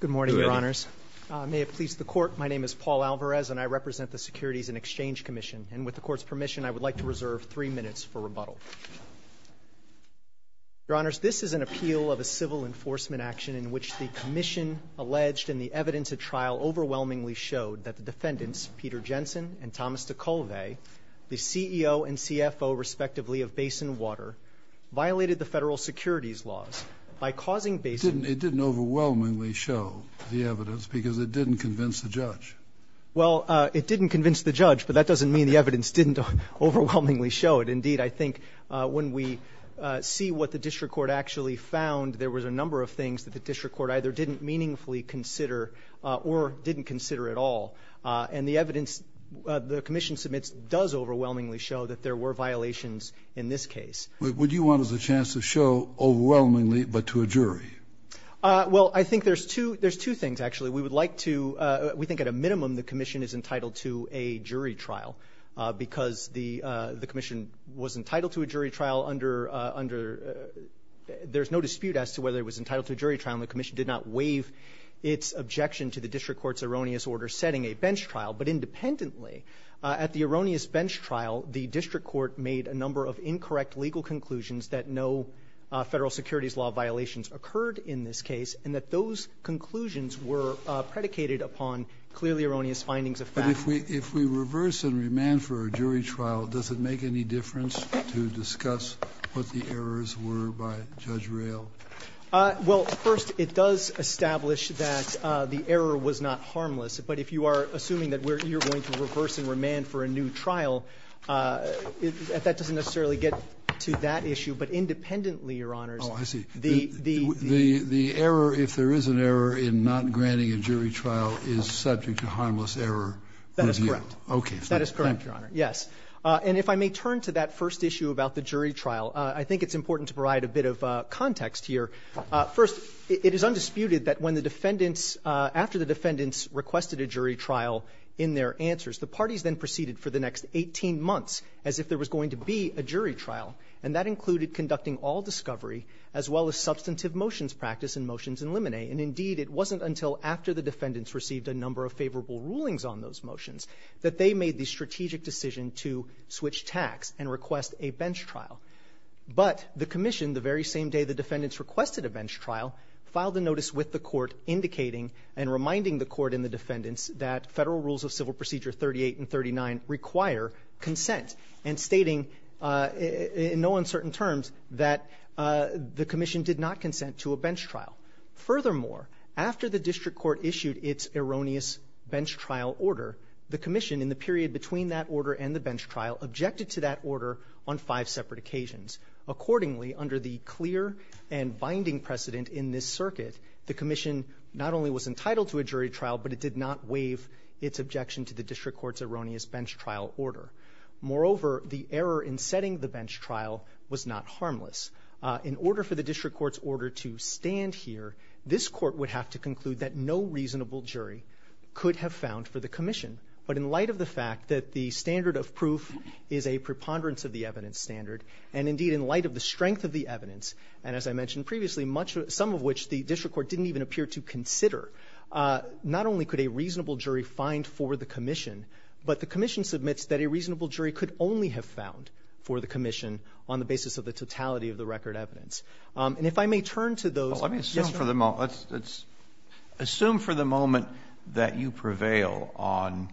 Good morning, Your Honors. May it please the Court, my name is Paul Alvarez and I represent the Securities and Exchange Commission, and with the Court's permission, I would like to reserve three minutes for rebuttal. Your Honors, this is an appeal of a civil enforcement action in which the Commission alleged in the evidence at trial overwhelmingly showed that the defendants, Peter Jensen and Thomas DeColvay, the CEO and CFO respectively of Basin Water, violated the federal securities laws by causing Basin Water to be sued. It didn't overwhelmingly show the evidence because it didn't convince the judge. Well, it didn't convince the judge, but that doesn't mean the evidence didn't overwhelmingly show it. Indeed, I think when we see what the District Court actually found, there was a number of things that the District Court either didn't meaningfully consider or didn't consider at all. And the evidence the Commission submits does overwhelmingly show that there were violations in this case. Would you want us a chance to show overwhelmingly but to a jury? Well, I think there's two things, actually. We would like to, we think at a minimum, the Commission is entitled to a jury trial because the Commission was entitled to a jury trial under, there's no dispute as to whether it was entitled to a jury trial and the Commission did not waive its objection to the District Court's erroneous order setting a bench trial. But independently, at the erroneous bench trial, the District Court made a number of incorrect legal conclusions that no federal securities law violations occurred in this case and that those conclusions were predicated upon clearly erroneous findings of fact. But if we reverse and remand for a jury trial, does it make any difference to discuss what the errors were by Judge Rayl? Well, first, it does establish that the error was not harmless. But if you are assuming that you're going to reverse and remand for a new trial, that doesn't necessarily get to that issue. But independently, Your Honors, the error, if there is an error in not granting a jury trial, is subject to harmless error review. That is correct. Okay. That is correct, Your Honor. Yes. And if I may turn to that first issue about the jury trial, I think it's important to provide a bit of context here. First, it is undisputed that when the defendants, after the defendants requested a jury trial in their answers, the parties then proceeded for the next 18 months as if there was going to be a jury trial, and that included conducting all discovery as well as substantive motions practice and motions in limine. And indeed, it wasn't until after the defendants received a number of favorable rulings on those motions that they made the strategic decision to switch tacks and request a bench trial. But the commission, the very same day the defendants requested a bench trial, filed a notice with the court indicating and reminding the court and the defendants that Federal Rules of Civil Procedure 38 and 39 require consent, and stating in no uncertain terms that the commission did not consent to a bench trial. Furthermore, after the district court issued its erroneous bench trial order, the commission in the period between that order and the bench trial objected to that on a number of occasions. Accordingly, under the clear and binding precedent in this circuit, the commission not only was entitled to a jury trial, but it did not waive its objection to the district court's erroneous bench trial order. Moreover, the error in setting the bench trial was not harmless. In order for the district court's order to stand here, this court would have to conclude that no reasonable jury could have found for the commission. But in light of the fact that the standard of proof is a preponderance of the evidence standard, and indeed in light of the strength of the evidence, and as I mentioned previously, some of which the district court didn't even appear to consider, not only could a reasonable jury find for the commission, but the commission submits that a reasonable jury could only have found for the commission on the basis of the totality of the record evidence. And if I may turn to those yes, Your Honor. Roberts. Kennedy. Assume for the moment that you prevail on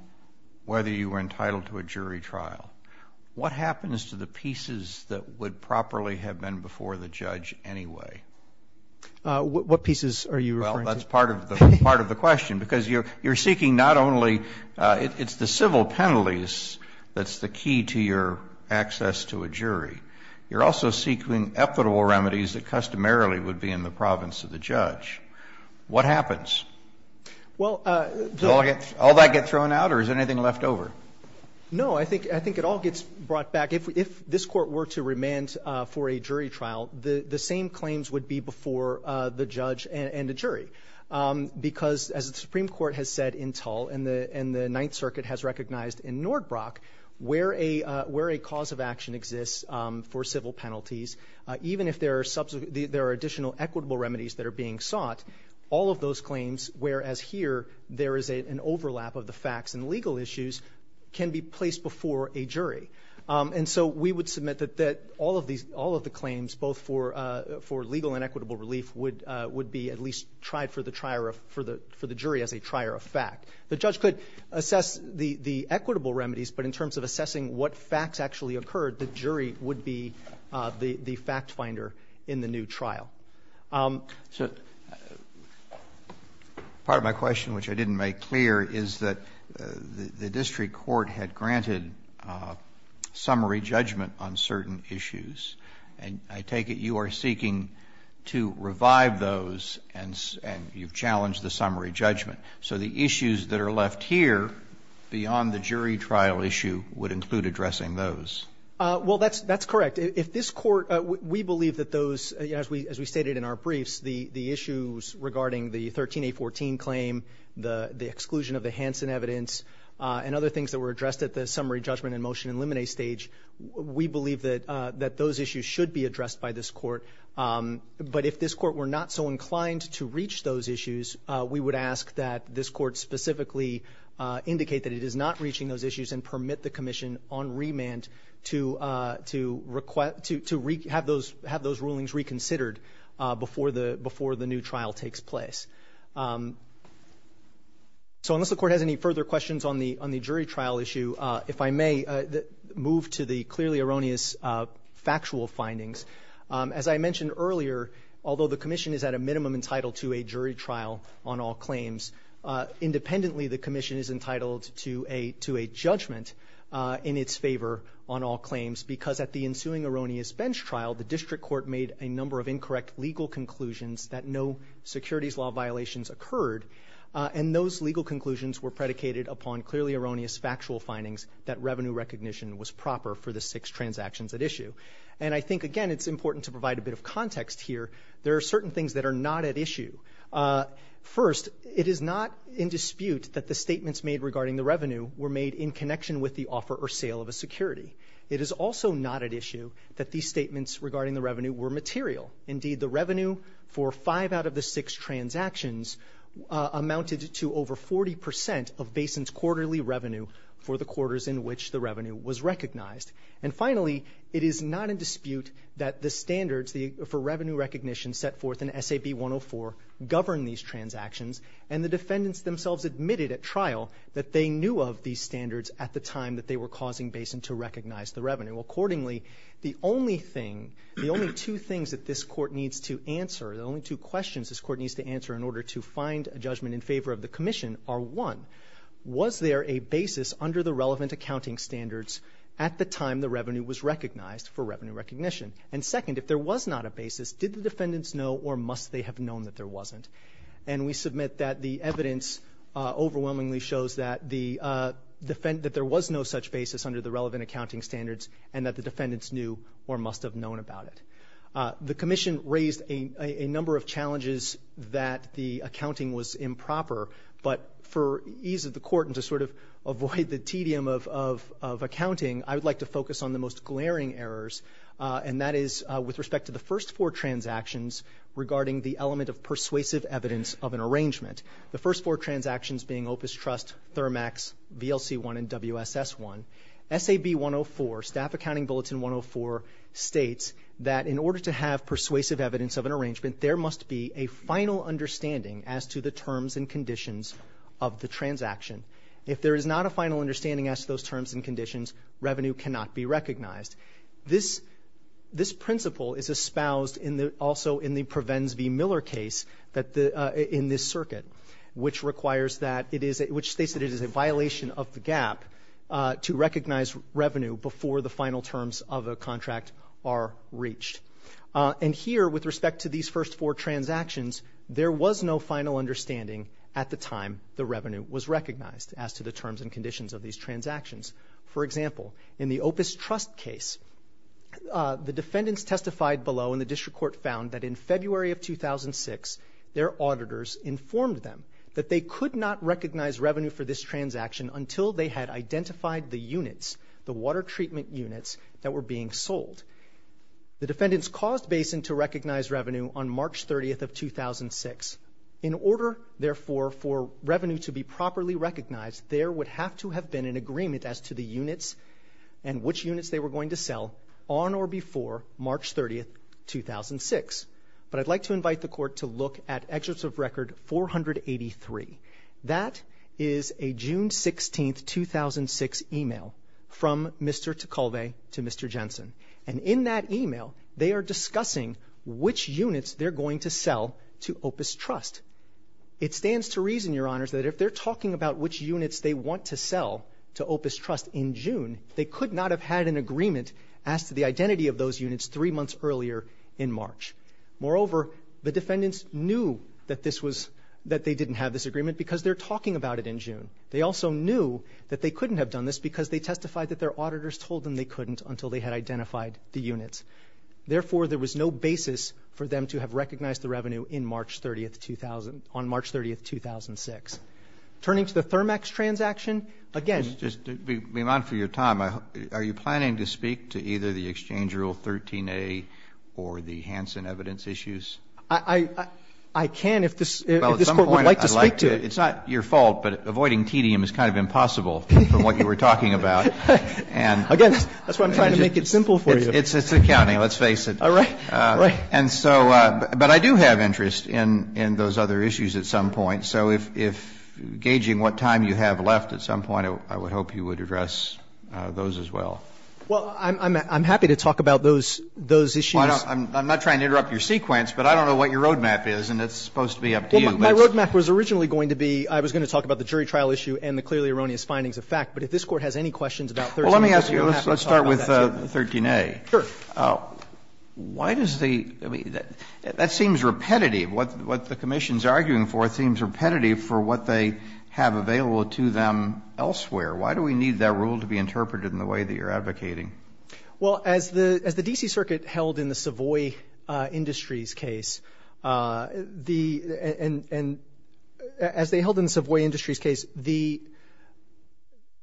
whether you were entitled to a jury trial. What happens to the pieces that would properly have been before the judge anyway? What pieces are you referring to? Well, that's part of the question, because you're seeking not only the civil penalties that's the key to your access to a jury. You're also seeking equitable remedies that customarily would be in the province of the judge. What happens? Well, the lawyer gets thrown out or is there anything left over? No. I think it all gets brought back. If this Court were to remand for a jury trial, the same claims would be before the judge and the jury, because as the Supreme Court has said in Tull and the Ninth Circuit has recognized in Nordbrok, where a cause of action exists for civil penalties, even if there are additional equitable remedies that are being sought, all of those can be placed before a jury. And so we would submit that all of the claims, both for legal and equitable relief, would be at least tried for the jury as a trier of fact. The judge could assess the equitable remedies, but in terms of assessing what facts actually occurred, the jury would be the fact finder in the new trial. So part of my question, which I didn't make clear, is that the district court had granted summary judgment on certain issues. And I take it you are seeking to revive those and you've challenged the summary judgment. So the issues that are left here beyond the jury trial issue would include addressing those. Well, that's correct. If this court, we believe that those, as we stated in our briefs, the issues regarding the 13A14 claim, the exclusion of the Hansen evidence, and other things that were addressed at the summary judgment and motion and limine stage, we believe that those issues should be addressed by this court. But if this court were not so inclined to reach those issues, we would ask that this court specifically indicate that it is not reaching those issues and permit the court to have those rulings reconsidered before the new trial takes place. So unless the court has any further questions on the jury trial issue, if I may move to the clearly erroneous factual findings. As I mentioned earlier, although the commission is at a minimum entitled to a jury trial on all claims, independently the commission is entitled to a judgment in its favor on all claims because at the ensuing erroneous bench trial, the district court made a number of incorrect legal conclusions that no securities law violations occurred, and those legal conclusions were predicated upon clearly erroneous factual findings that revenue recognition was proper for the six transactions at issue. And I think, again, it's important to provide a bit of context here. There are certain things that are not at issue. First, it is not in dispute that the statements made regarding the revenue were made in connection with the offer or sale of a security. It is also not at issue that these statements regarding the revenue were material. Indeed, the revenue for five out of the six transactions amounted to over 40% of Basin's quarterly revenue for the quarters in which the revenue was recognized. And finally, it is not in dispute that the standards for revenue recognition set forth in SAB 104 govern these transactions, and the defendants themselves admitted at trial that they knew of these standards at the time that they were causing Basin to recognize the revenue. Accordingly, the only thing, the only two things that this court needs to answer, the only two questions this court needs to answer in order to find a judgment in favor of the commission are, one, was there a basis under the relevant accounting standards at the time the revenue was recognized for revenue recognition? And second, if there was not a basis, did the defendants know or must they have known that there wasn't? And we submit that the evidence overwhelmingly shows that there was no such basis under the relevant accounting standards, and that the defendants knew or must have known about it. The commission raised a number of challenges that the accounting was improper, but for ease of the court and to sort of avoid the tedium of accounting, I would like to focus on the most glaring errors, and that is with respect to the first four transactions regarding the element of persuasive evidence of an arrangement. The first four transactions being Opus Trust, Thermax, VLC1, and WSS1. SAB 104, Staff Accounting Bulletin 104 states that in order to have persuasive evidence of an arrangement, there must be a final understanding as to the terms and conditions of the transaction. If there is not a final understanding as to those terms and conditions, revenue cannot be recognized. This principle is espoused also in the Prevens v. Miller case in this circuit, which states that it is a violation of the gap to recognize revenue before the final terms of a contract are reached. And here, with respect to these first four transactions, there was no final understanding at the time the revenue was recognized as to the terms and conditions of these transactions. For example, in the Opus Trust case, the defendants testified below, and the district court found that in February of 2006, their auditors informed them that they could not recognize revenue for this transaction until they had identified the units, the water treatment units that were being sold. The defendants caused Basin to recognize revenue on March 30th of 2006. In order, therefore, for revenue to be properly recognized, there would have to have been an agreement as to the units and which units they were going to sell on or before March 30th, 2006. But I'd like to invite the court to look at Excerpts of Record 483. That is a June 16th, 2006 email from Mr. Ticolve to Mr. Jensen. And in that email, they are discussing which units they're going to sell to Opus Trust. It stands to reason, Your Honors, that if they're talking about which units they want to sell to Opus Trust in June, they could not have had an agreement as to the identity of those units three months earlier in March. Moreover, the defendants knew that they didn't have this agreement because they're talking about it in June. They also knew that they couldn't have done this because they testified that their auditors told them they couldn't until they had identified the units. Therefore, there was no basis for them to have recognized the revenue on March 30th, 2006. Turning to the Thermax transaction, again- Just to be mindful of your time, are you planning to speak to either the Exchange Rule 13A or the Hansen evidence issues? I can if this court would like to speak to it. It's not your fault, but avoiding tedium is kind of impossible from what you were talking about. Again, that's why I'm trying to make it simple for you. It's accounting, let's face it. All right. Right. And so, but I do have interest in those other issues at some point. So if, gauging what time you have left at some point, I would hope you would address those as well. Well, I'm happy to talk about those issues. I'm not trying to interrupt your sequence, but I don't know what your roadmap is, and it's supposed to be up to you. My roadmap was originally going to be, I was going to talk about the jury trial issue and the clearly erroneous findings of fact. But if this Court has any questions about 13A- Sure. Why does the, I mean, that seems repetitive. What the Commission's arguing for seems repetitive for what they have available to them elsewhere. Why do we need that rule to be interpreted in the way that you're advocating? Well, as the D.C. Circuit held in the Savoy Industries case, the, and as they held in the Savoy Industries case, the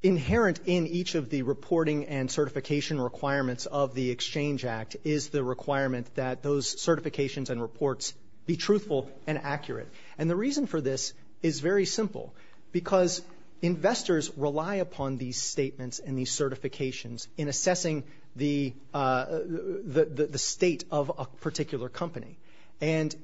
inherent in each of the reporting and certification requirements of the Exchange Act is the requirement that those certifications and reports be truthful and accurate. And the reason for this is very simple, because investors rely upon these statements and these certifications in assessing the state of a particular company. And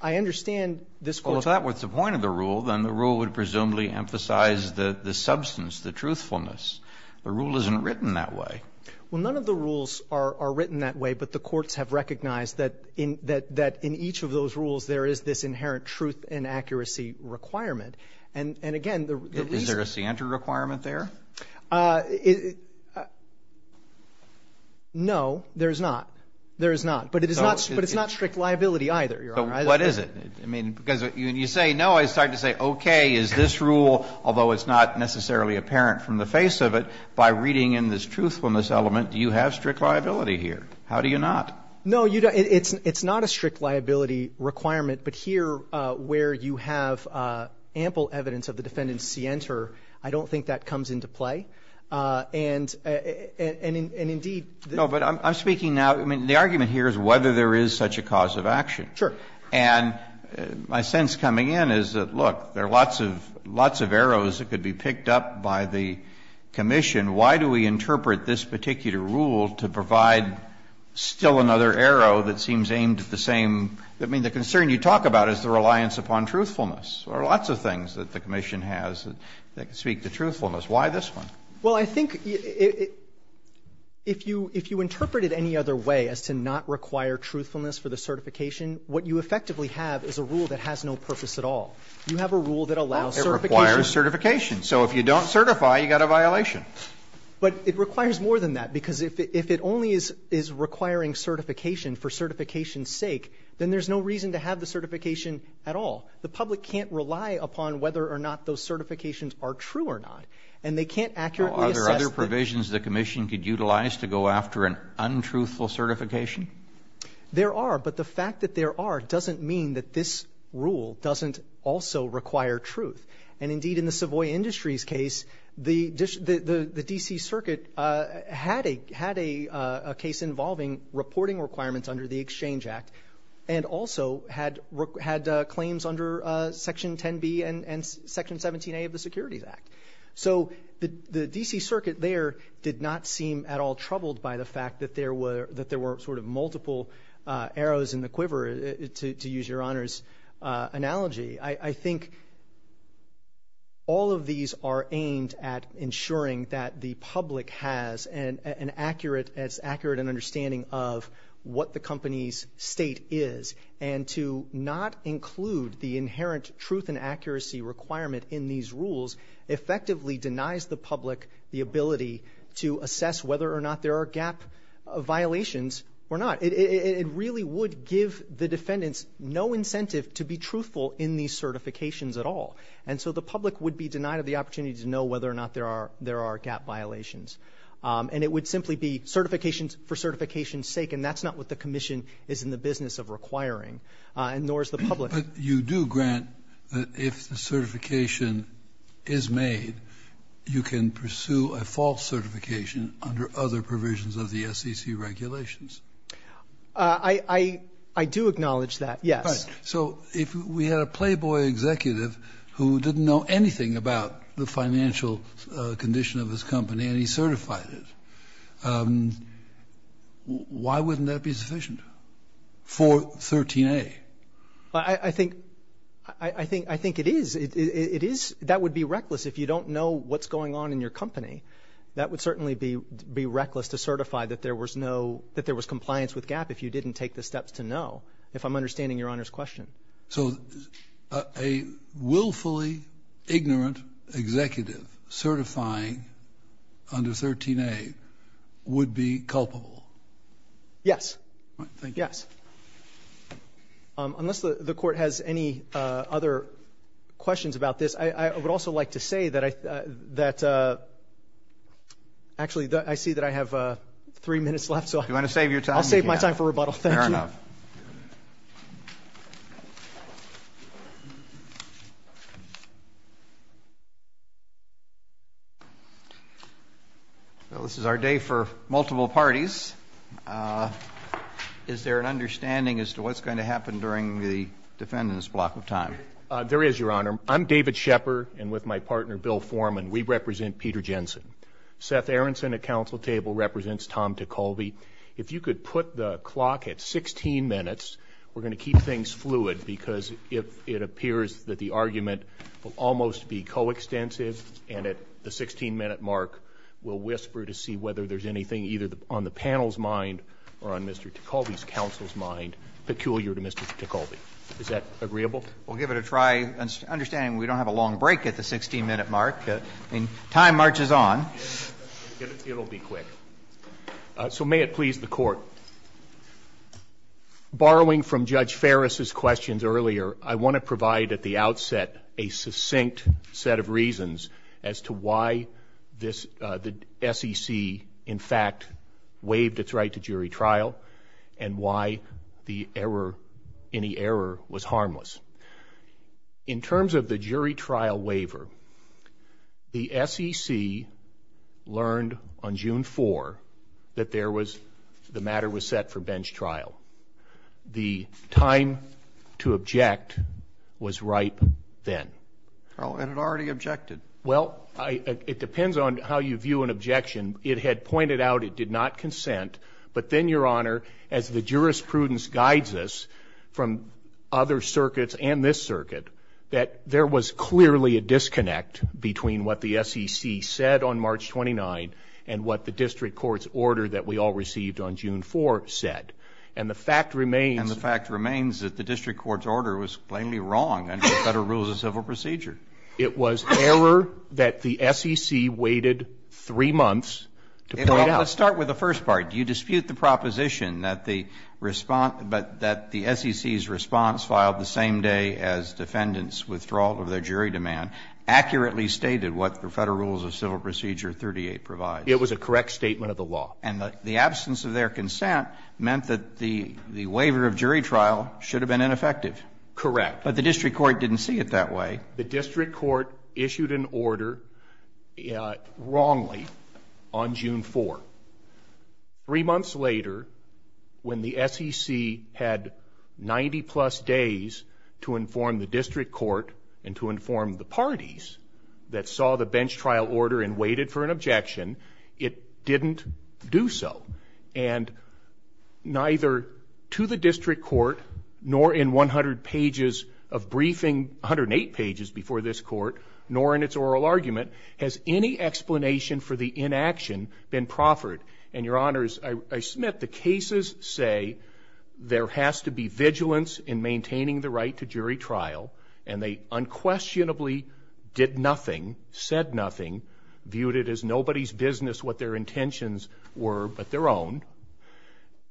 I understand this Court- Yes. The substance, the truthfulness, the rule isn't written that way. Well, none of the rules are written that way, but the courts have recognized that in each of those rules there is this inherent truth and accuracy requirement. And again, the reason- Is there a scienter requirement there? No, there is not. There is not. But it's not strict liability either, Your Honor. So what is it? I mean, because when you say no, I start to say, okay, is this rule, although it's not necessarily apparent from the face of it, by reading in this truthfulness element, do you have strict liability here? How do you not? No, you don't. It's not a strict liability requirement. But here, where you have ample evidence of the defendant's scienter, I don't think that comes into play. And indeed- No, but I'm speaking now, I mean, the argument here is whether there is such a cause of action. Sure. And my sense coming in is that, look, there are lots of arrows that could be picked up by the commission. Why do we interpret this particular rule to provide still another arrow that seems aimed at the same – I mean, the concern you talk about is the reliance upon truthfulness. There are lots of things that the commission has that speak to truthfulness. Why this one? Well, I think if you interpret it any other way as to not require truthfulness for the certification, what you effectively have is a rule that has no purpose at all. You have a rule that allows certification- Well, it requires certification. So if you don't certify, you've got a violation. But it requires more than that, because if it only is requiring certification for certification's sake, then there's no reason to have the certification at all. The public can't rely upon whether or not those certifications are true or not. And they can't accurately assess- Are there other provisions the commission could utilize to go after an untruthful certification? There are. But the fact that there are doesn't mean that this rule doesn't also require truth. And indeed, in the Savoy Industries case, the D.C. Circuit had a case involving reporting requirements under the Exchange Act and also had claims under Section 10B and Section 17A of the Securities Act. So the D.C. Circuit there did not seem at all troubled by the fact that there were sort of multiple arrows in the quiver, to use Your Honor's analogy. I think all of these are aimed at ensuring that the public has an accurate understanding of what the company's state is. And to not include the inherent truth and accuracy requirement in these rules effectively denies the public the ability to assess whether or not there are gap violations or not. It really would give the defendants no incentive to be truthful in these certifications at all. And so the public would be denied the opportunity to know whether or not there are gap violations. And it would simply be certifications for certification's sake. And that's not what the commission is in the business of requiring, nor is the public. But you do grant that if the certification is made, you can pursue a false certification under other provisions of the SEC regulations. I do acknowledge that, yes. So if we had a playboy executive who didn't know anything about the financial condition of his company and he certified it, why wouldn't that be sufficient for 13A? I think it is. It is. That would be reckless if you don't know what's going on in your company. That would certainly be reckless to certify that there was compliance with gap if you didn't take the steps to know, if I'm understanding Your Honor's question. So a willfully ignorant executive certifying under 13A would be culpable? Yes. Yes. Unless the court has any other questions about this, I would also like to say that actually I see that I have three minutes left, so I'll save my time for rebuttal. Fair enough. Well, this is our day for multiple parties. Is there an understanding as to what's going to happen during the defendant's block of time? There is, Your Honor. I'm David Shepherd, and with my partner Bill Foreman, we represent Peter Jensen. Seth Aaronson at counsel table represents Tom Ticholby. If you could put the clock at 16 minutes, we're going to keep things fluid because if it appears that the argument will almost be coextensive and at the 16 minute mark, we'll whisper to see whether there's anything either on the panel's mind or on Mr. Ticholby's counsel's mind peculiar to Mr. Ticholby. Is that agreeable? We'll give it a try, understanding we don't have a long break at the 16 minute mark. I mean, time marches on. It'll be quick. So may it please the court. Borrowing from Judge Ferris' questions earlier, I want to provide at the outset a succinct set of reasons as to why the SEC, in fact, waived its right to jury trial and why the error, any error, was harmless. In terms of the jury trial waiver, the SEC learned on June 4 that there was, the matter was set for bench trial. The time to object was right then. Oh, and it already objected. Well, I, it depends on how you view an objection. It had pointed out it did not consent, but then Your Honor, as the jurisprudence guides us from other circuits and this circuit, that there was clearly a disconnect between what the SEC said on March 29 and what the district court's order that we all received on June 4 said. And the fact remains. And the fact remains that the district court's order was plainly wrong under the Federal Rules of Civil Procedure. It was error that the SEC waited three months to point out. Let's start with the first part. You dispute the proposition that the response, that the SEC's response filed the same day as defendants' withdrawal of their jury demand accurately stated what the Federal Rules of Civil Procedure 38 provides. It was a correct statement of the law. And the absence of their consent meant that the waiver of jury trial should have been ineffective. Correct. But the district court didn't see it that way. The district court issued an order wrongly on June 4. Three months later, when the SEC had 90-plus days to inform the district court and to inform the parties that saw the bench trial order and waited for an objection, it didn't do so. And neither to the district court, nor in 100 pages of briefing, 108 pages before this court, nor in its oral argument, has any explanation for the inaction been proffered. And, Your Honors, I submit the cases say there has to be vigilance in maintaining the right to jury trial. And they unquestionably did nothing, said nothing, viewed it as nobody's business what their intentions were, but their own.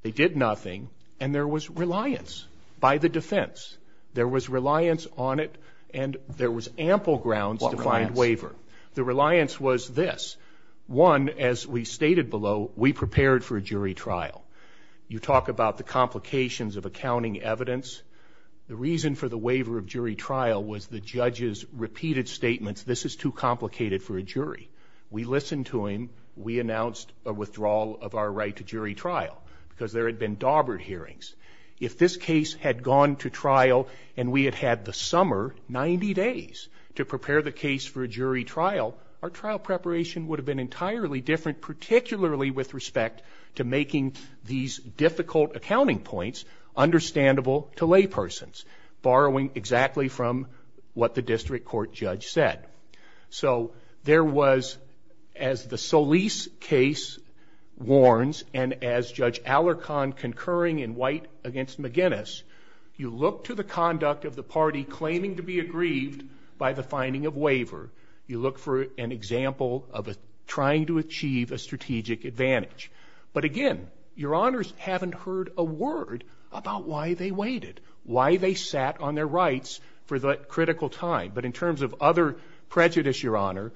They did nothing. And there was reliance by the defense. There was reliance on it. And there was ample grounds to find waiver. The reliance was this. One, as we stated below, we prepared for a jury trial. You talk about the complications of accounting evidence. The reason for the waiver of jury trial was the judge's repeated statements. This is too complicated for a jury. We listened to him. We announced a withdrawal of our right to jury trial because there had been daubered hearings. If this case had gone to trial and we had had the summer, 90 days, to prepare the jury trial, it would have been entirely different, particularly with respect to making these difficult accounting points understandable to laypersons, borrowing exactly from what the district court judge said. So there was, as the Solis case warns, and as Judge Alarcon concurring in white against McGinnis, you look to the conduct of the party claiming to be aggrieved by the finding of waiver. You look for an example of trying to achieve a strategic advantage. But again, your honors haven't heard a word about why they waited, why they sat on their rights for that critical time. But in terms of other prejudice, your honor,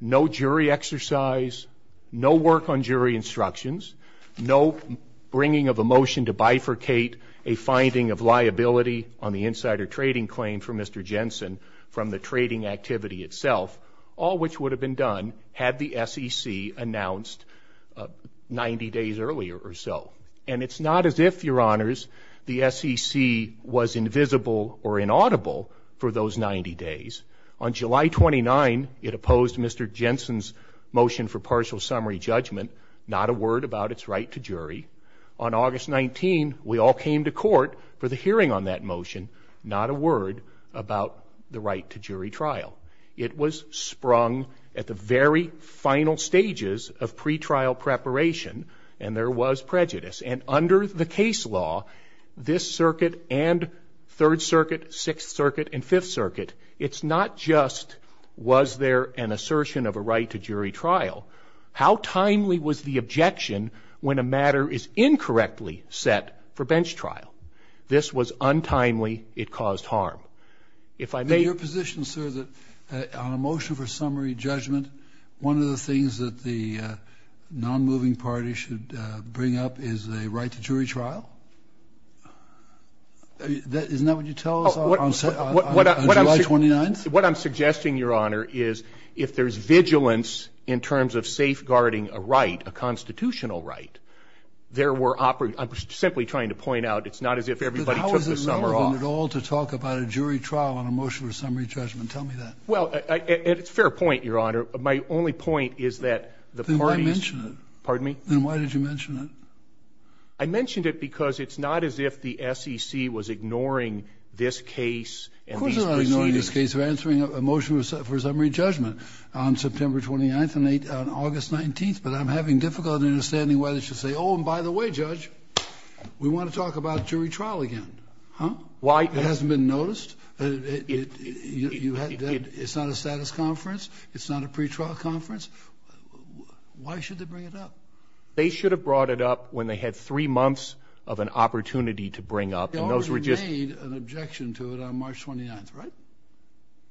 no jury exercise, no work on jury instructions, no bringing of a motion to bifurcate a finding of liability on the insider trading claim for Mr. Jensen from the trading activity itself, all which would have been done had the SEC announced 90 days earlier or so. And it's not as if, your honors, the SEC was invisible or inaudible for those 90 days. On July 29, it opposed Mr. Jensen's motion for partial summary judgment, not a word about its right to jury. On August 19, we all came to court for the hearing on that motion, not a word about the right to jury trial. It was sprung at the very final stages of pretrial preparation, and there was prejudice. And under the case law, this circuit and Third Circuit, Sixth Circuit, and Fifth Circuit, it's not just was there an assertion of a right to jury trial, how timely was the objection when a matter is incorrectly set for bench trial? This was untimely. It caused harm. If I may. Your position, sir, that on a motion for summary judgment, one of the things that the non-moving party should bring up is a right to jury trial? Isn't that what you tell us on July 29th? What I'm suggesting, Your Honor, is if there's vigilance in terms of safeguarding a right, a constitutional right, there were, I'm simply trying to point out, it's not as if everybody took the summer off. But how is it relevant at all to talk about a jury trial on a motion for summary judgment? Tell me that. Well, it's a fair point, Your Honor. My only point is that the parties. Then why mention it? Pardon me? Then why did you mention it? I mentioned it because it's not as if the SEC was ignoring this case. Of course they're not ignoring this case. They're answering a motion for summary judgment on September 29th and August 19th. But I'm having difficulty understanding why they should say, oh, and by the way, Judge, we want to talk about jury trial again. Huh? Why? It hasn't been noticed. It's not a status conference. It's not a pretrial conference. Why should they bring it up? They should have brought it up when they had three months of an opportunity to bring up. Those were just made an objection to it on March 29th, right?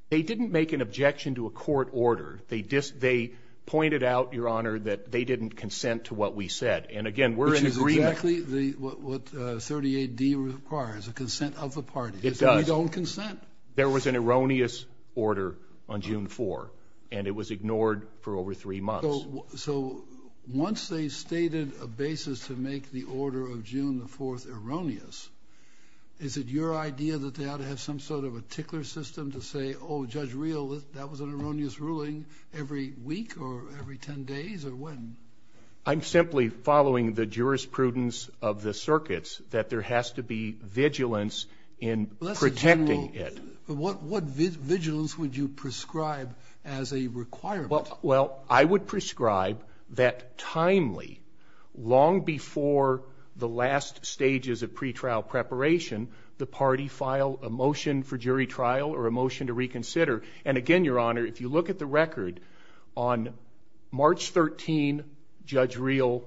They didn't make an objection to a court order. They just, they pointed out, Your Honor, that they didn't consent to what we said. And again, we're in agreement with 38 D requires a consent of the party. It does own consent. There was an erroneous order on June four and it was ignored for over three months. So once they stated a basis to make the order of June the fourth erroneous, is it your idea that they ought to have some sort of a tickler system to say, oh, judge real, that was an erroneous ruling every week or every 10 days or when? I'm simply following the jurisprudence of the circuits that there has to be vigilance in protecting it. What, what vigilance would you prescribe as a requirement? Well, I would prescribe that timely long before the last stages of pretrial preparation, the party file a motion for jury trial or a motion to reconsider. And again, Your Honor, if you look at the record on March 13, judge real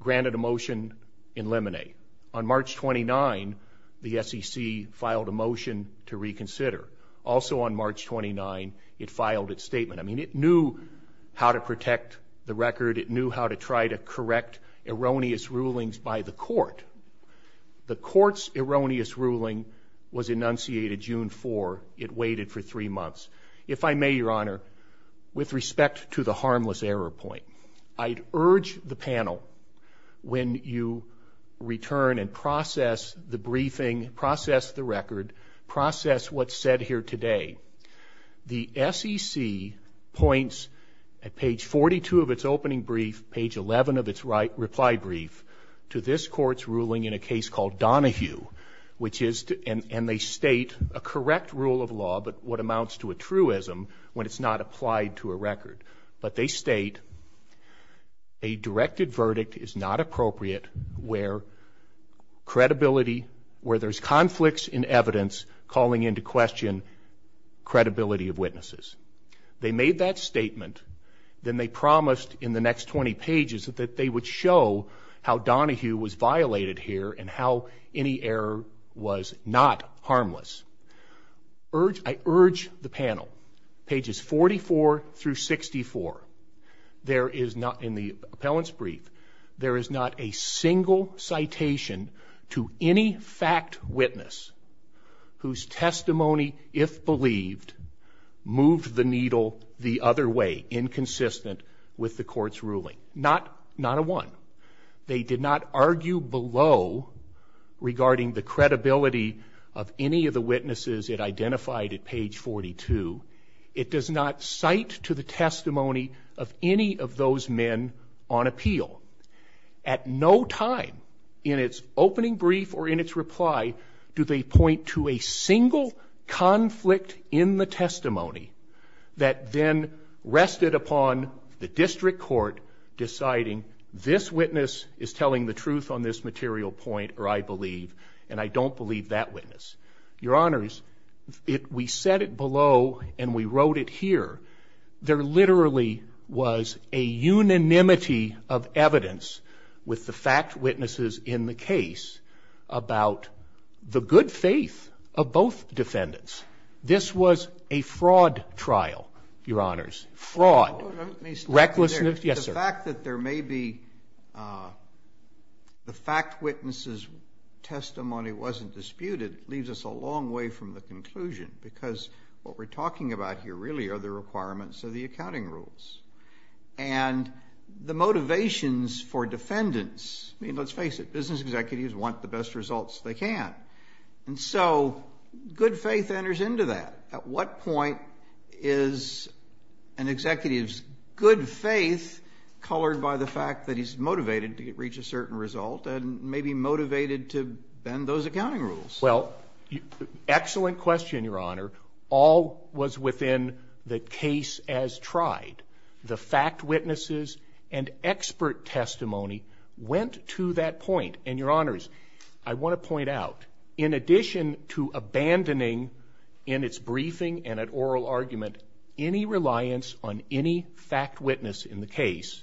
granted a motion in lemonade on March 29, the SEC filed a motion to reconsider also on March 29, it filed its statement. I mean, it knew how to protect the record. It knew how to try to correct erroneous rulings by the court. The court's erroneous ruling was enunciated June four. It waited for three months. If I may, Your Honor, with respect to the harmless error point, I urge the panel when you return and process the briefing, process the record, process what's said here today, the SEC points at page 42 of its opening brief, page 11 of its right reply brief to this court's ruling in a case called Donahue, which is, and they state a correct rule of law, but what amounts to a truism when it's not applied to a record, but they state a directed verdict is not appropriate where credibility, where there's conflicts in evidence, calling into question credibility of witnesses. They made that statement. Then they promised in the next 20 pages that they would show how Donahue was violated here and how any error was not harmless. Urge, I urge the panel pages 44 through 64, there is not in the appellant's There is not a single citation to any fact witness whose testimony, if believed, moved the needle the other way, inconsistent with the court's ruling. Not, not a one. They did not argue below regarding the credibility of any of the witnesses it identified at page 42. It does not cite to the testimony of any of those men on appeal at no time in its opening brief or in its reply, do they point to a single conflict in the testimony that then rested upon the district court deciding this witness is telling the truth on this material point, or I believe, and I don't believe that Your honors, it, we set it below and we wrote it here. There literally was a unanimity of evidence with the fact witnesses in the case about the good faith of both defendants. This was a fraud trial, your honors, fraud, recklessness. Yes, sir. The fact that there may be a, the fact witnesses testimony wasn't disputed leaves us a long way from the conclusion because what we're talking about here really are the requirements of the accounting rules and the motivations for defendants. I mean, let's face it. Business executives want the best results they can. And so good faith enters into that. At what point is an executive's good faith colored by the fact that he's motivated to get, reach a certain result and maybe motivated to bend those accounting rules? Well, excellent question, your honor, all was within the case as tried. The fact witnesses and expert testimony went to that point and your honors, I and at oral argument, any reliance on any fact witness in the case,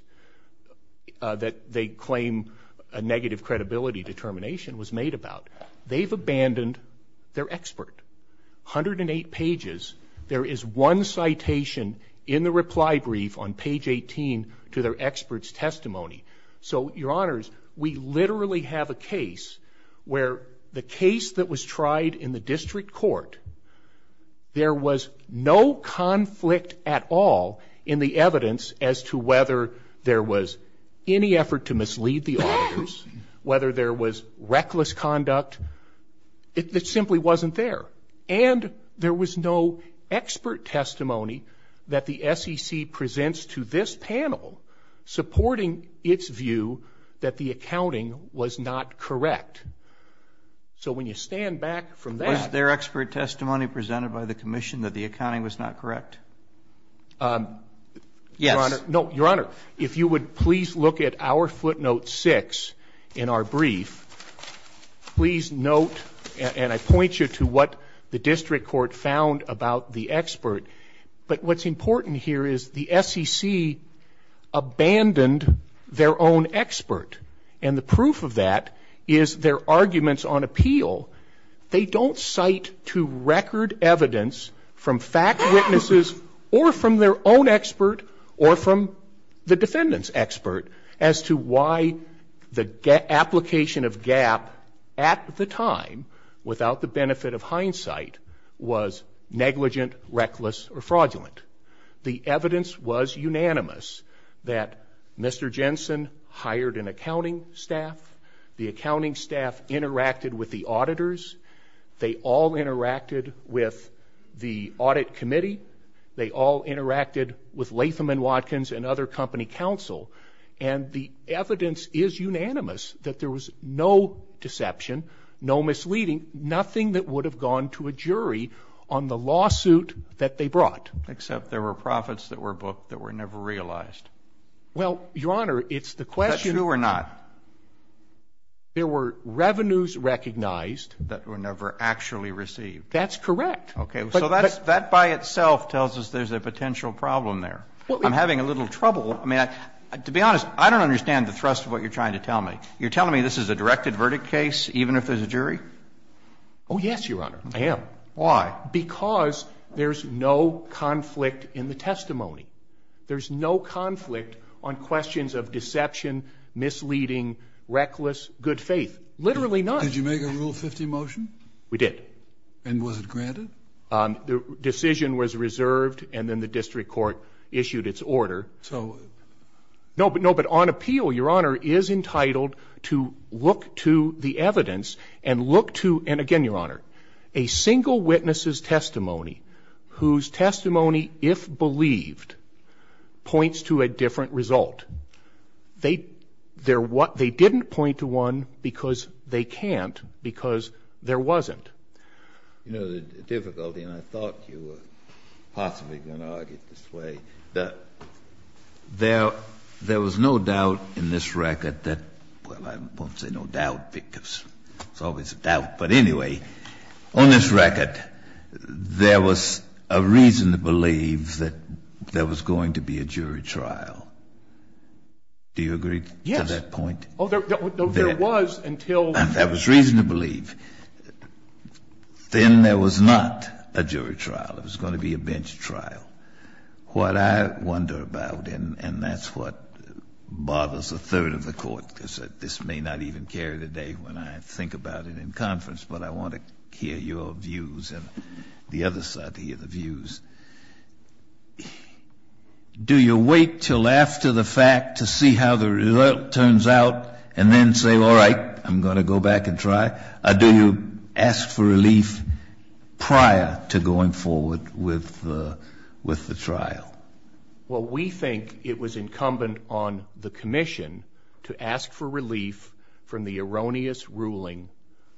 uh, that they claim a negative credibility determination was made about, they've abandoned their expert 108 pages. There is one citation in the reply brief on page 18 to their experts testimony. So your honors, we literally have a case where the case that was tried in the was no conflict at all in the evidence as to whether there was any effort to mislead the auditors, whether there was reckless conduct, it simply wasn't there. And there was no expert testimony that the SEC presents to this panel supporting its view that the accounting was not correct. So when you stand back from that, was their expert testimony presented by the commission that the accounting was not correct? Um, yes, no, your honor. If you would please look at our footnote six in our brief, please note, and I point you to what the district court found about the expert, but what's important here is the SEC abandoned their own expert. And the proof of that is their arguments on appeal. They don't cite to record evidence from fact witnesses or from their own expert or from the defendant's expert as to why the application of GAP at the time without the benefit of hindsight was negligent, reckless, or fraudulent. The evidence was unanimous that Mr. Jensen hired an accounting staff. The accounting staff interacted with the auditors. They all interacted with the audit committee. They all interacted with Latham and Watkins and other company counsel. And the evidence is unanimous that there was no deception, no misleading, nothing that would have gone to a jury on the lawsuit that they brought. Except there were profits that were booked that were never realized. Well, your honor, it's the question. That's true or not? There were revenues recognized. That were never actually received. That's correct. Okay. So that's, that by itself tells us there's a potential problem there. I'm having a little trouble. I mean, to be honest, I don't understand the thrust of what you're trying to tell me. You're telling me this is a directed verdict case, even if there's a jury? Oh, yes, your honor, I am. Why? Because there's no conflict in the testimony. There's no conflict on questions of deception, misleading, reckless, good faith, literally not. Did you make a rule 50 motion? We did. And was it granted? Um, the decision was reserved and then the district court issued its order. So no, but no, but on appeal, your honor is entitled to look to the evidence and look to, and again, your honor, a single witnesses testimony whose testimony, if believed points to a different result, they, they're what they didn't point to one because they can't because there wasn't, you know, the difficulty. And I thought you were possibly going to argue this way that there, there was no doubt in this record that, well, I won't say no doubt because it's always a doubt, but anyway, on this record, there was a reason to believe that there was going to be a jury trial. Do you agree to that point? Oh, there, there was until. That was reason to believe. Then there was not a jury trial. It was going to be a bench trial. What I wonder about, and that's what bothers a third of the court, because this may not even carry the day when I think about it in conference, but I want to hear your views and the other side to hear the views. Do you wait till after the fact to see how the result turns out and then say, all right, I'm going to go back and try? Do you ask for relief prior to going forward with, with the trial? Well, we think it was incumbent on the commission to ask for relief from the erroneous ruling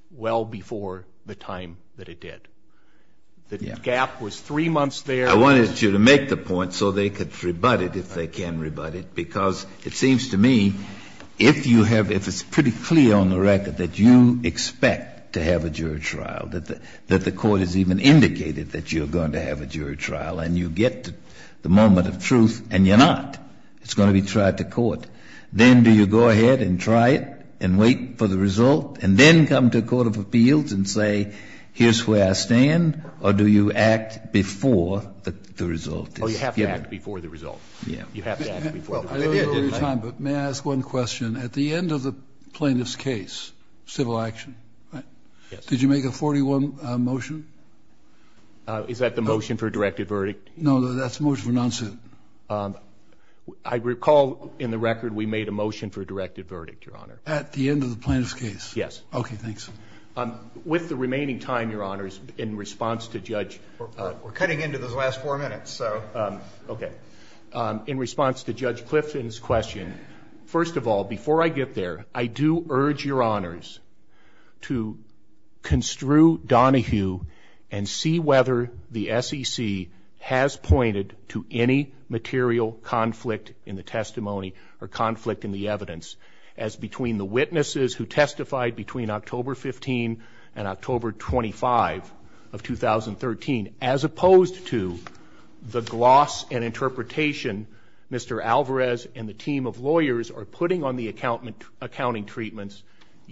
well before the time that it did. The gap was three months there. I wanted you to make the point so they could rebut it if they can rebut it, because it seems to me if you have, if it's pretty clear on the record that you expect to have a jury trial, that the, that the court has even indicated that you're going to have a moment of truth, and you're not, it's going to be tried to court. Then do you go ahead and try it and wait for the result and then come to a court of appeals and say, here's where I stand, or do you act before the, the result is given? Oh, you have to act before the result. Yeah. You have to act before the result. I know we're out of time, but may I ask one question? At the end of the plaintiff's case, civil action, did you make a 41 motion? Is that the motion for a directive verdict? No, that's the motion for non-suit. Um, I recall in the record, we made a motion for a directive verdict, Your Honor. At the end of the plaintiff's case. Yes. Okay. Thanks. Um, with the remaining time, Your Honors, in response to Judge, uh, we're cutting into those last four minutes, so, um, okay. Um, in response to Judge Clifton's question, first of all, before I get there, I do urge Your Honors to construe Donahue and see whether the SEC has pointed to any material conflict in the testimony or conflict in the evidence as between the witnesses who testified between October 15 and October 25 of 2013, as opposed to the gloss and interpretation, Mr.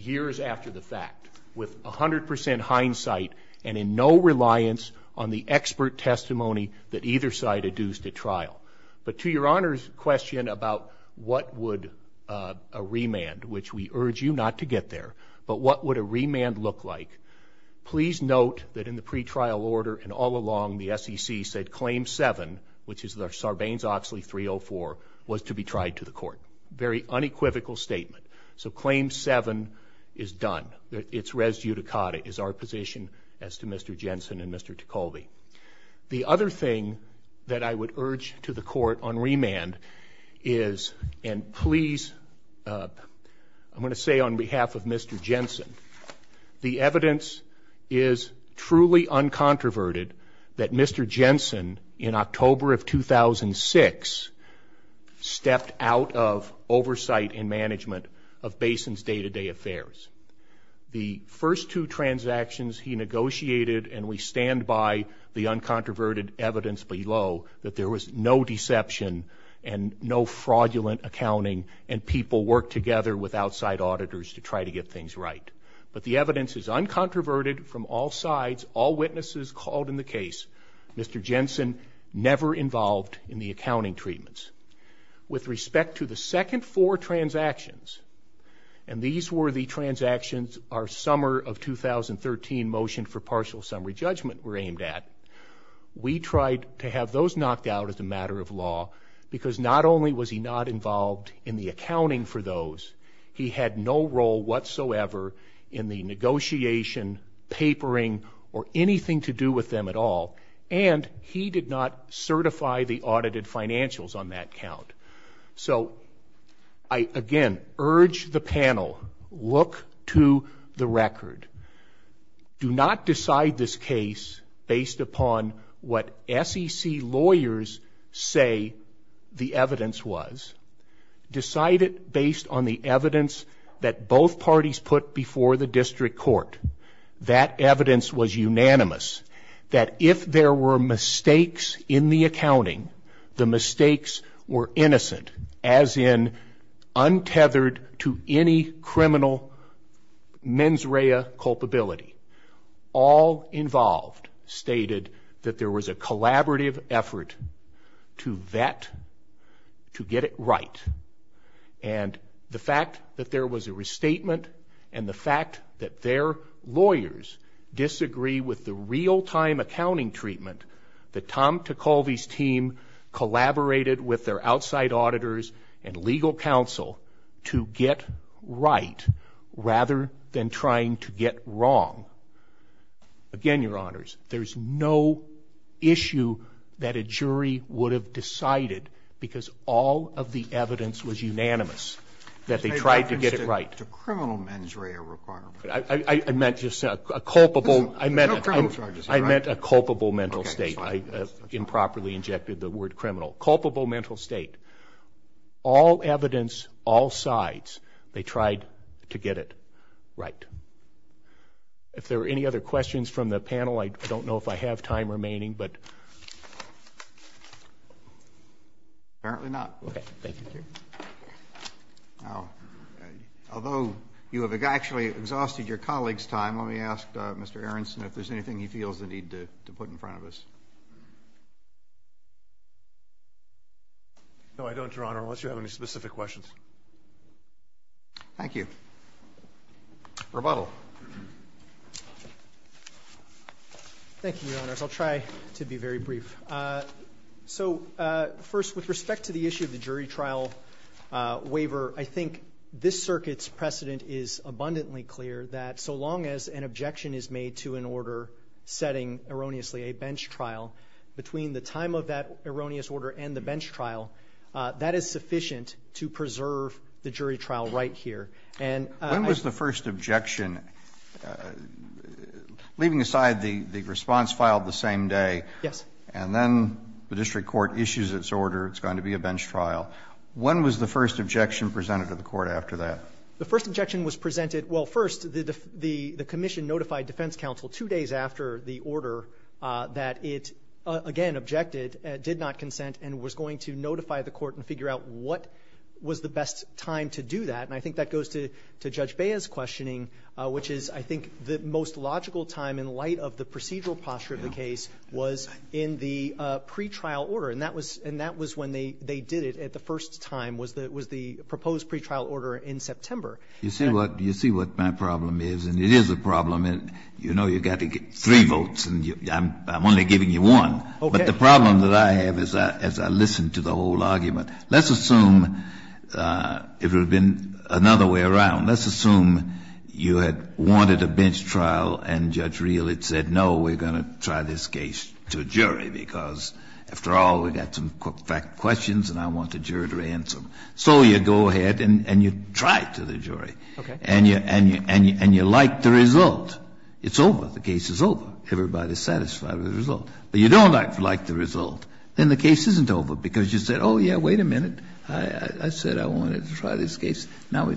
Years after the fact with a hundred percent hindsight and in no reliance on the expert testimony that either side adduced at trial. But to Your Honor's question about what would, uh, a remand, which we urge you not to get there, but what would a remand look like, please note that in the pretrial order and all along the SEC said claim seven, which is the Sarbanes-Oxley 304 was to be tried to the court. Very unequivocal statement. So claim seven is done. It's res judicata, is our position as to Mr. Jensen and Mr. Ticoli. The other thing that I would urge to the court on remand is, and please, uh, I'm going to say on behalf of Mr. Jensen, the evidence is truly uncontroverted that Mr. Jensen in October of 2006, stepped out of oversight and management of Basin's day to day affairs. The first two transactions he negotiated and we stand by the uncontroverted evidence below that there was no deception and no fraudulent accounting and people work together with outside auditors to try to get things right. But the evidence is uncontroverted from all sides. All witnesses called in the case, Mr. Jensen never involved in the accounting treatments. With respect to the second four transactions, and these were the transactions our summer of 2013 motion for partial summary judgment were aimed at, we tried to have those knocked out as a matter of law because not only was he not involved in the accounting for those, he had no role whatsoever in the negotiation, papering, or anything to do with them at all. And he did not certify the audited financials on that count. So I, again, urge the panel, look to the record. Do not decide this case based upon what SEC lawyers say the evidence was. Decide it based on the evidence that both parties put before the district court. That evidence was unanimous that if there were mistakes in the accounting, the mistakes were innocent as in untethered to any criminal mens rea culpability, all involved stated that there was a collaborative effort to vet, to get it right. And the fact that there was a restatement and the fact that their lawyers disagree with the real time accounting treatment that Tom Ticholvi's team collaborated with their outside auditors and legal counsel to get right rather than trying to get wrong, again, your honors, there's no issue that a jury would have decided because all of the evidence was unanimous that they tried to get it right. It's a criminal mens rea requirement. I meant just a culpable, I meant a culpable mental state. I improperly injected the word criminal. Culpable mental state. All evidence, all sides, they tried to get it right. If there are any other questions from the panel, I don't know if I have time remaining, but apparently not. Okay. Thank you. Now, although you have actually exhausted your colleague's time, let me ask Mr. Aronson if there's anything he feels the need to put in front of us. No, I don't, your honor, unless you have any specific questions. Thank you. Rebuttal. Thank you, your honors. I'll try to be very brief. So first, with respect to the issue of the jury trial waiver, I think this circuit's precedent is abundantly clear that so long as an objection is made to an order setting erroneously a bench trial, between the time of that erroneous order and the bench trial, that is sufficient to preserve the jury trial right here. And I think that's the best time to do that. When was the first objection, leaving aside the response filed the same day. Yes. And then the district court issues its order, it's going to be a bench trial. When was the first objection presented to the court after that? The first objection was presented, well, first, the commission notified defense counsel two days after the order that it, again, objected, did not consent, and was going to notify the court and figure out what was the best time to do that. And I think that goes to Judge Bea's questioning, which is, I think, the most logical time in light of the procedural posture of the case was in the pretrial order. And that was when they did it at the first time was the proposed pretrial order in September. You see what my problem is? And it is a problem. You know you've got to get three votes, and I'm only giving you one. Okay. But the problem that I have as I listen to the whole argument, let's assume if there was another way around, let's assume you had wanted a bench trial and Judge Reilly said, no, we're going to try this case to a jury, because after all, we've got some questions and I want the jury to answer them. So you go ahead and you try it to the jury, and you like the result, it's over, the case is over, everybody's satisfied with the result. But you don't like the result, then the case isn't over, because you said, oh, yeah, wait a minute. I said I wanted to try this case. Now,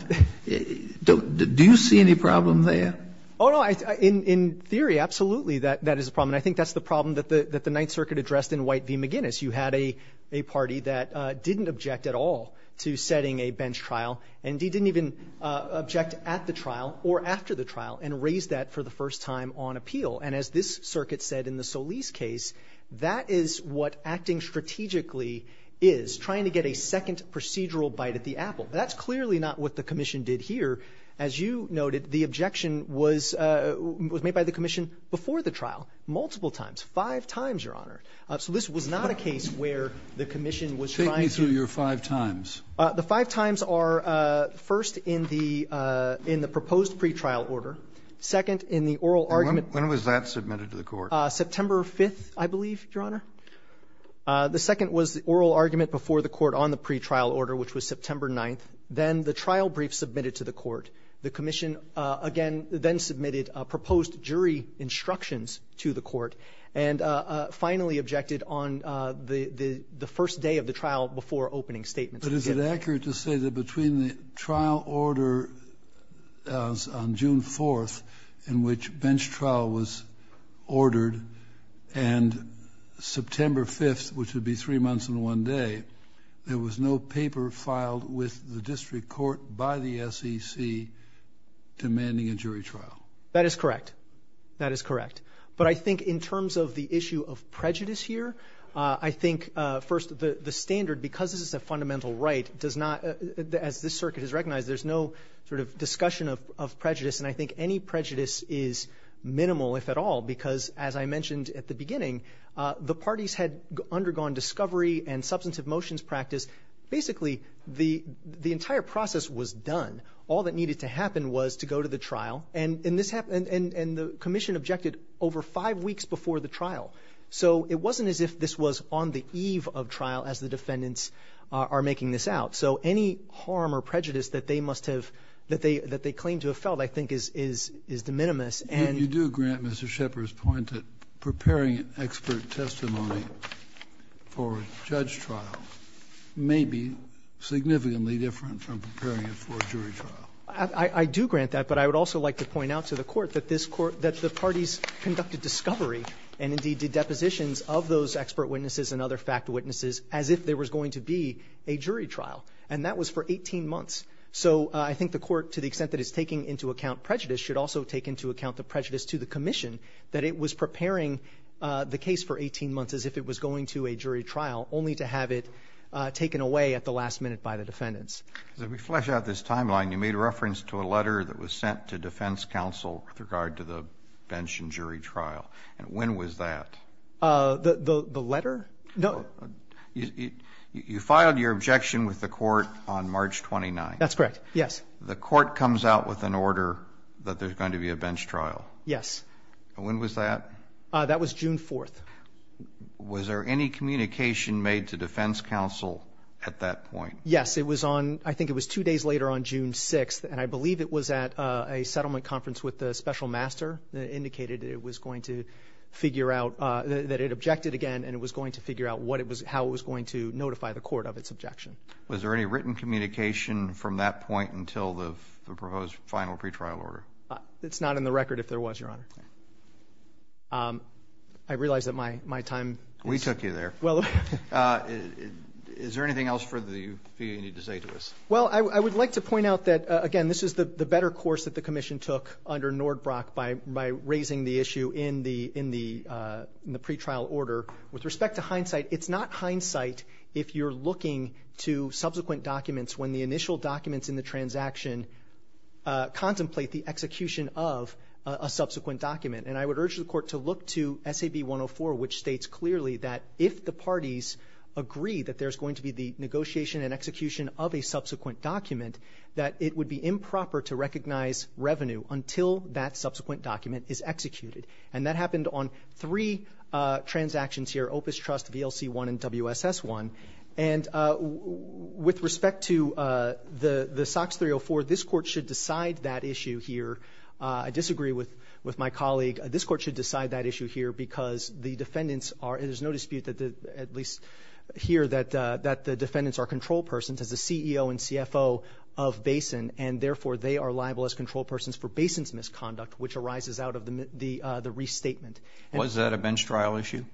do you see any problem there? Oh, no. In theory, absolutely, that is a problem. And I think that's the problem that the Ninth Circuit addressed in White v. McGinnis. You had a party that didn't object at all to setting a bench trial, and he didn't even object at the trial or after the trial, and raised that for the first time on appeal. And as this circuit said in the Solis case, that is what acting strategically is, trying to get a second procedural bite at the apple. That's clearly not what the commission did here. As you noted, the objection was made by the commission before the trial, multiple times, five times, Your Honor. So this was not a case where the commission was trying to do the same thing. Kennedy, take me through your five times. The five times are, first, in the proposed pretrial order, second, in the oral argument. And when was that submitted to the court? September 5th, I believe, Your Honor. The second was the oral argument before the court on the pretrial order, which was September 9th. Then the trial brief submitted to the court. The commission, again, then submitted proposed jury instructions to the court, and finally objected on the first day of the trial before opening statements. But is it accurate to say that between the trial order on June 4th, in which bench trial was ordered, and September 5th, which would be three months and one day, there was no paper filed with the district court by the SEC demanding a jury trial? That is correct. That is correct. But I think in terms of the issue of prejudice here, I think, first, the standard, because this is a fundamental right, does not, as this circuit has recognized, there's no sort of discussion of prejudice. And I think any prejudice is minimal, if at all, because, as I mentioned at the beginning, the parties had undergone discovery and substantive motions practice. Basically, the entire process was done. All that needed to happen was to go to the trial. And the commission objected over five weeks before the trial. So it wasn't as if this was on the eve of trial as the defendants are making this out. So any harm or prejudice that they claim to have felt, I think, is de minimis. And you do grant Mr. Shepard's point that preparing expert testimony for a judge trial may be significantly different from preparing it for a jury trial. I do grant that. But I would also like to point out to the Court that this Court, that the parties conducted discovery and, indeed, did depositions of those expert witnesses and other fact witnesses as if there was going to be a jury trial. And that was for 18 months. So I think the Court, to the extent that it's taking into account prejudice, should also take into account the prejudice to the commission that it was preparing the case for 18 months as if it was going to a jury trial, only to have it taken away at the last minute by the defendants. If we flesh out this timeline, you made reference to a letter that was sent to defense counsel with regard to the bench and jury trial. And when was that? The letter? No. You filed your objection with the Court on March 29th. That's correct. Yes. The Court comes out with an order that there's going to be a bench trial. Yes. When was that? That was June 4th. Was there any communication made to defense counsel at that point? Yes, it was on, I think it was two days later on June 6th. And I believe it was at a settlement conference with the special master that indicated it was going to figure out, that it objected again. And it was going to figure out what it was, how it was going to notify the court of its objection. Was there any written communication from that point until the proposed final pretrial order? It's not in the record, if there was, Your Honor. I realize that my time is- We took you there. Well, is there anything else for the field you need to say to us? Well, I would like to point out that, again, this is the better course that the commission took under Nordbrock by raising the issue in the pretrial order with respect to hindsight, it's not hindsight if you're looking to subsequent documents when the initial documents in the transaction contemplate the execution of a subsequent document, and I would urge the court to look to SAB 104, which states clearly that if the parties agree that there's going to be the negotiation and execution of a subsequent document, that it would be improper to recognize revenue until that subsequent document is executed. And that happened on three transactions here, Opus Trust, VLC1, and WSS1. And with respect to the SOX 304, this court should decide that issue here. I disagree with my colleague. This court should decide that issue here because the defendants are, there's no dispute that the, at least here, that the defendants are control persons as the CEO and CFO of Basin, and therefore they are liable as control persons for Basin's misconduct, which arises out of the restatement. Was that a bench trial issue?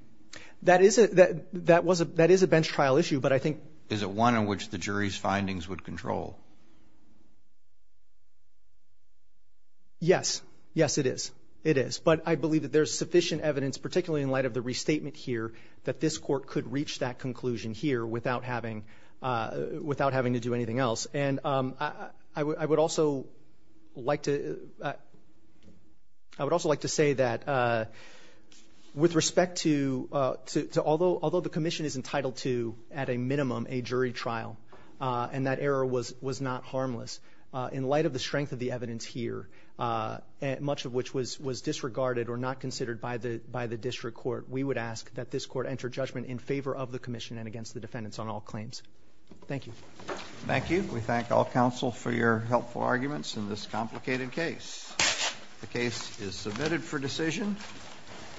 That is a bench trial issue, but I think- Is it one in which the jury's findings would control? Yes. Yes, it is. It is, but I believe that there's sufficient evidence, particularly in light of the restatement here, that this court could reach that conclusion here without having to do anything else. And I would also like to, I would also like to say that with respect to, although the commission is entitled to, at a minimum, a jury trial, and that error was not harmless, in light of the strength of the evidence here, much of which was disregarded or not considered by the district court, we would ask that this court enter judgment in favor of the commission and against the defendants on all claims. Thank you. Thank you. We thank all counsel for your helpful arguments in this complicated case. The case is submitted for decision.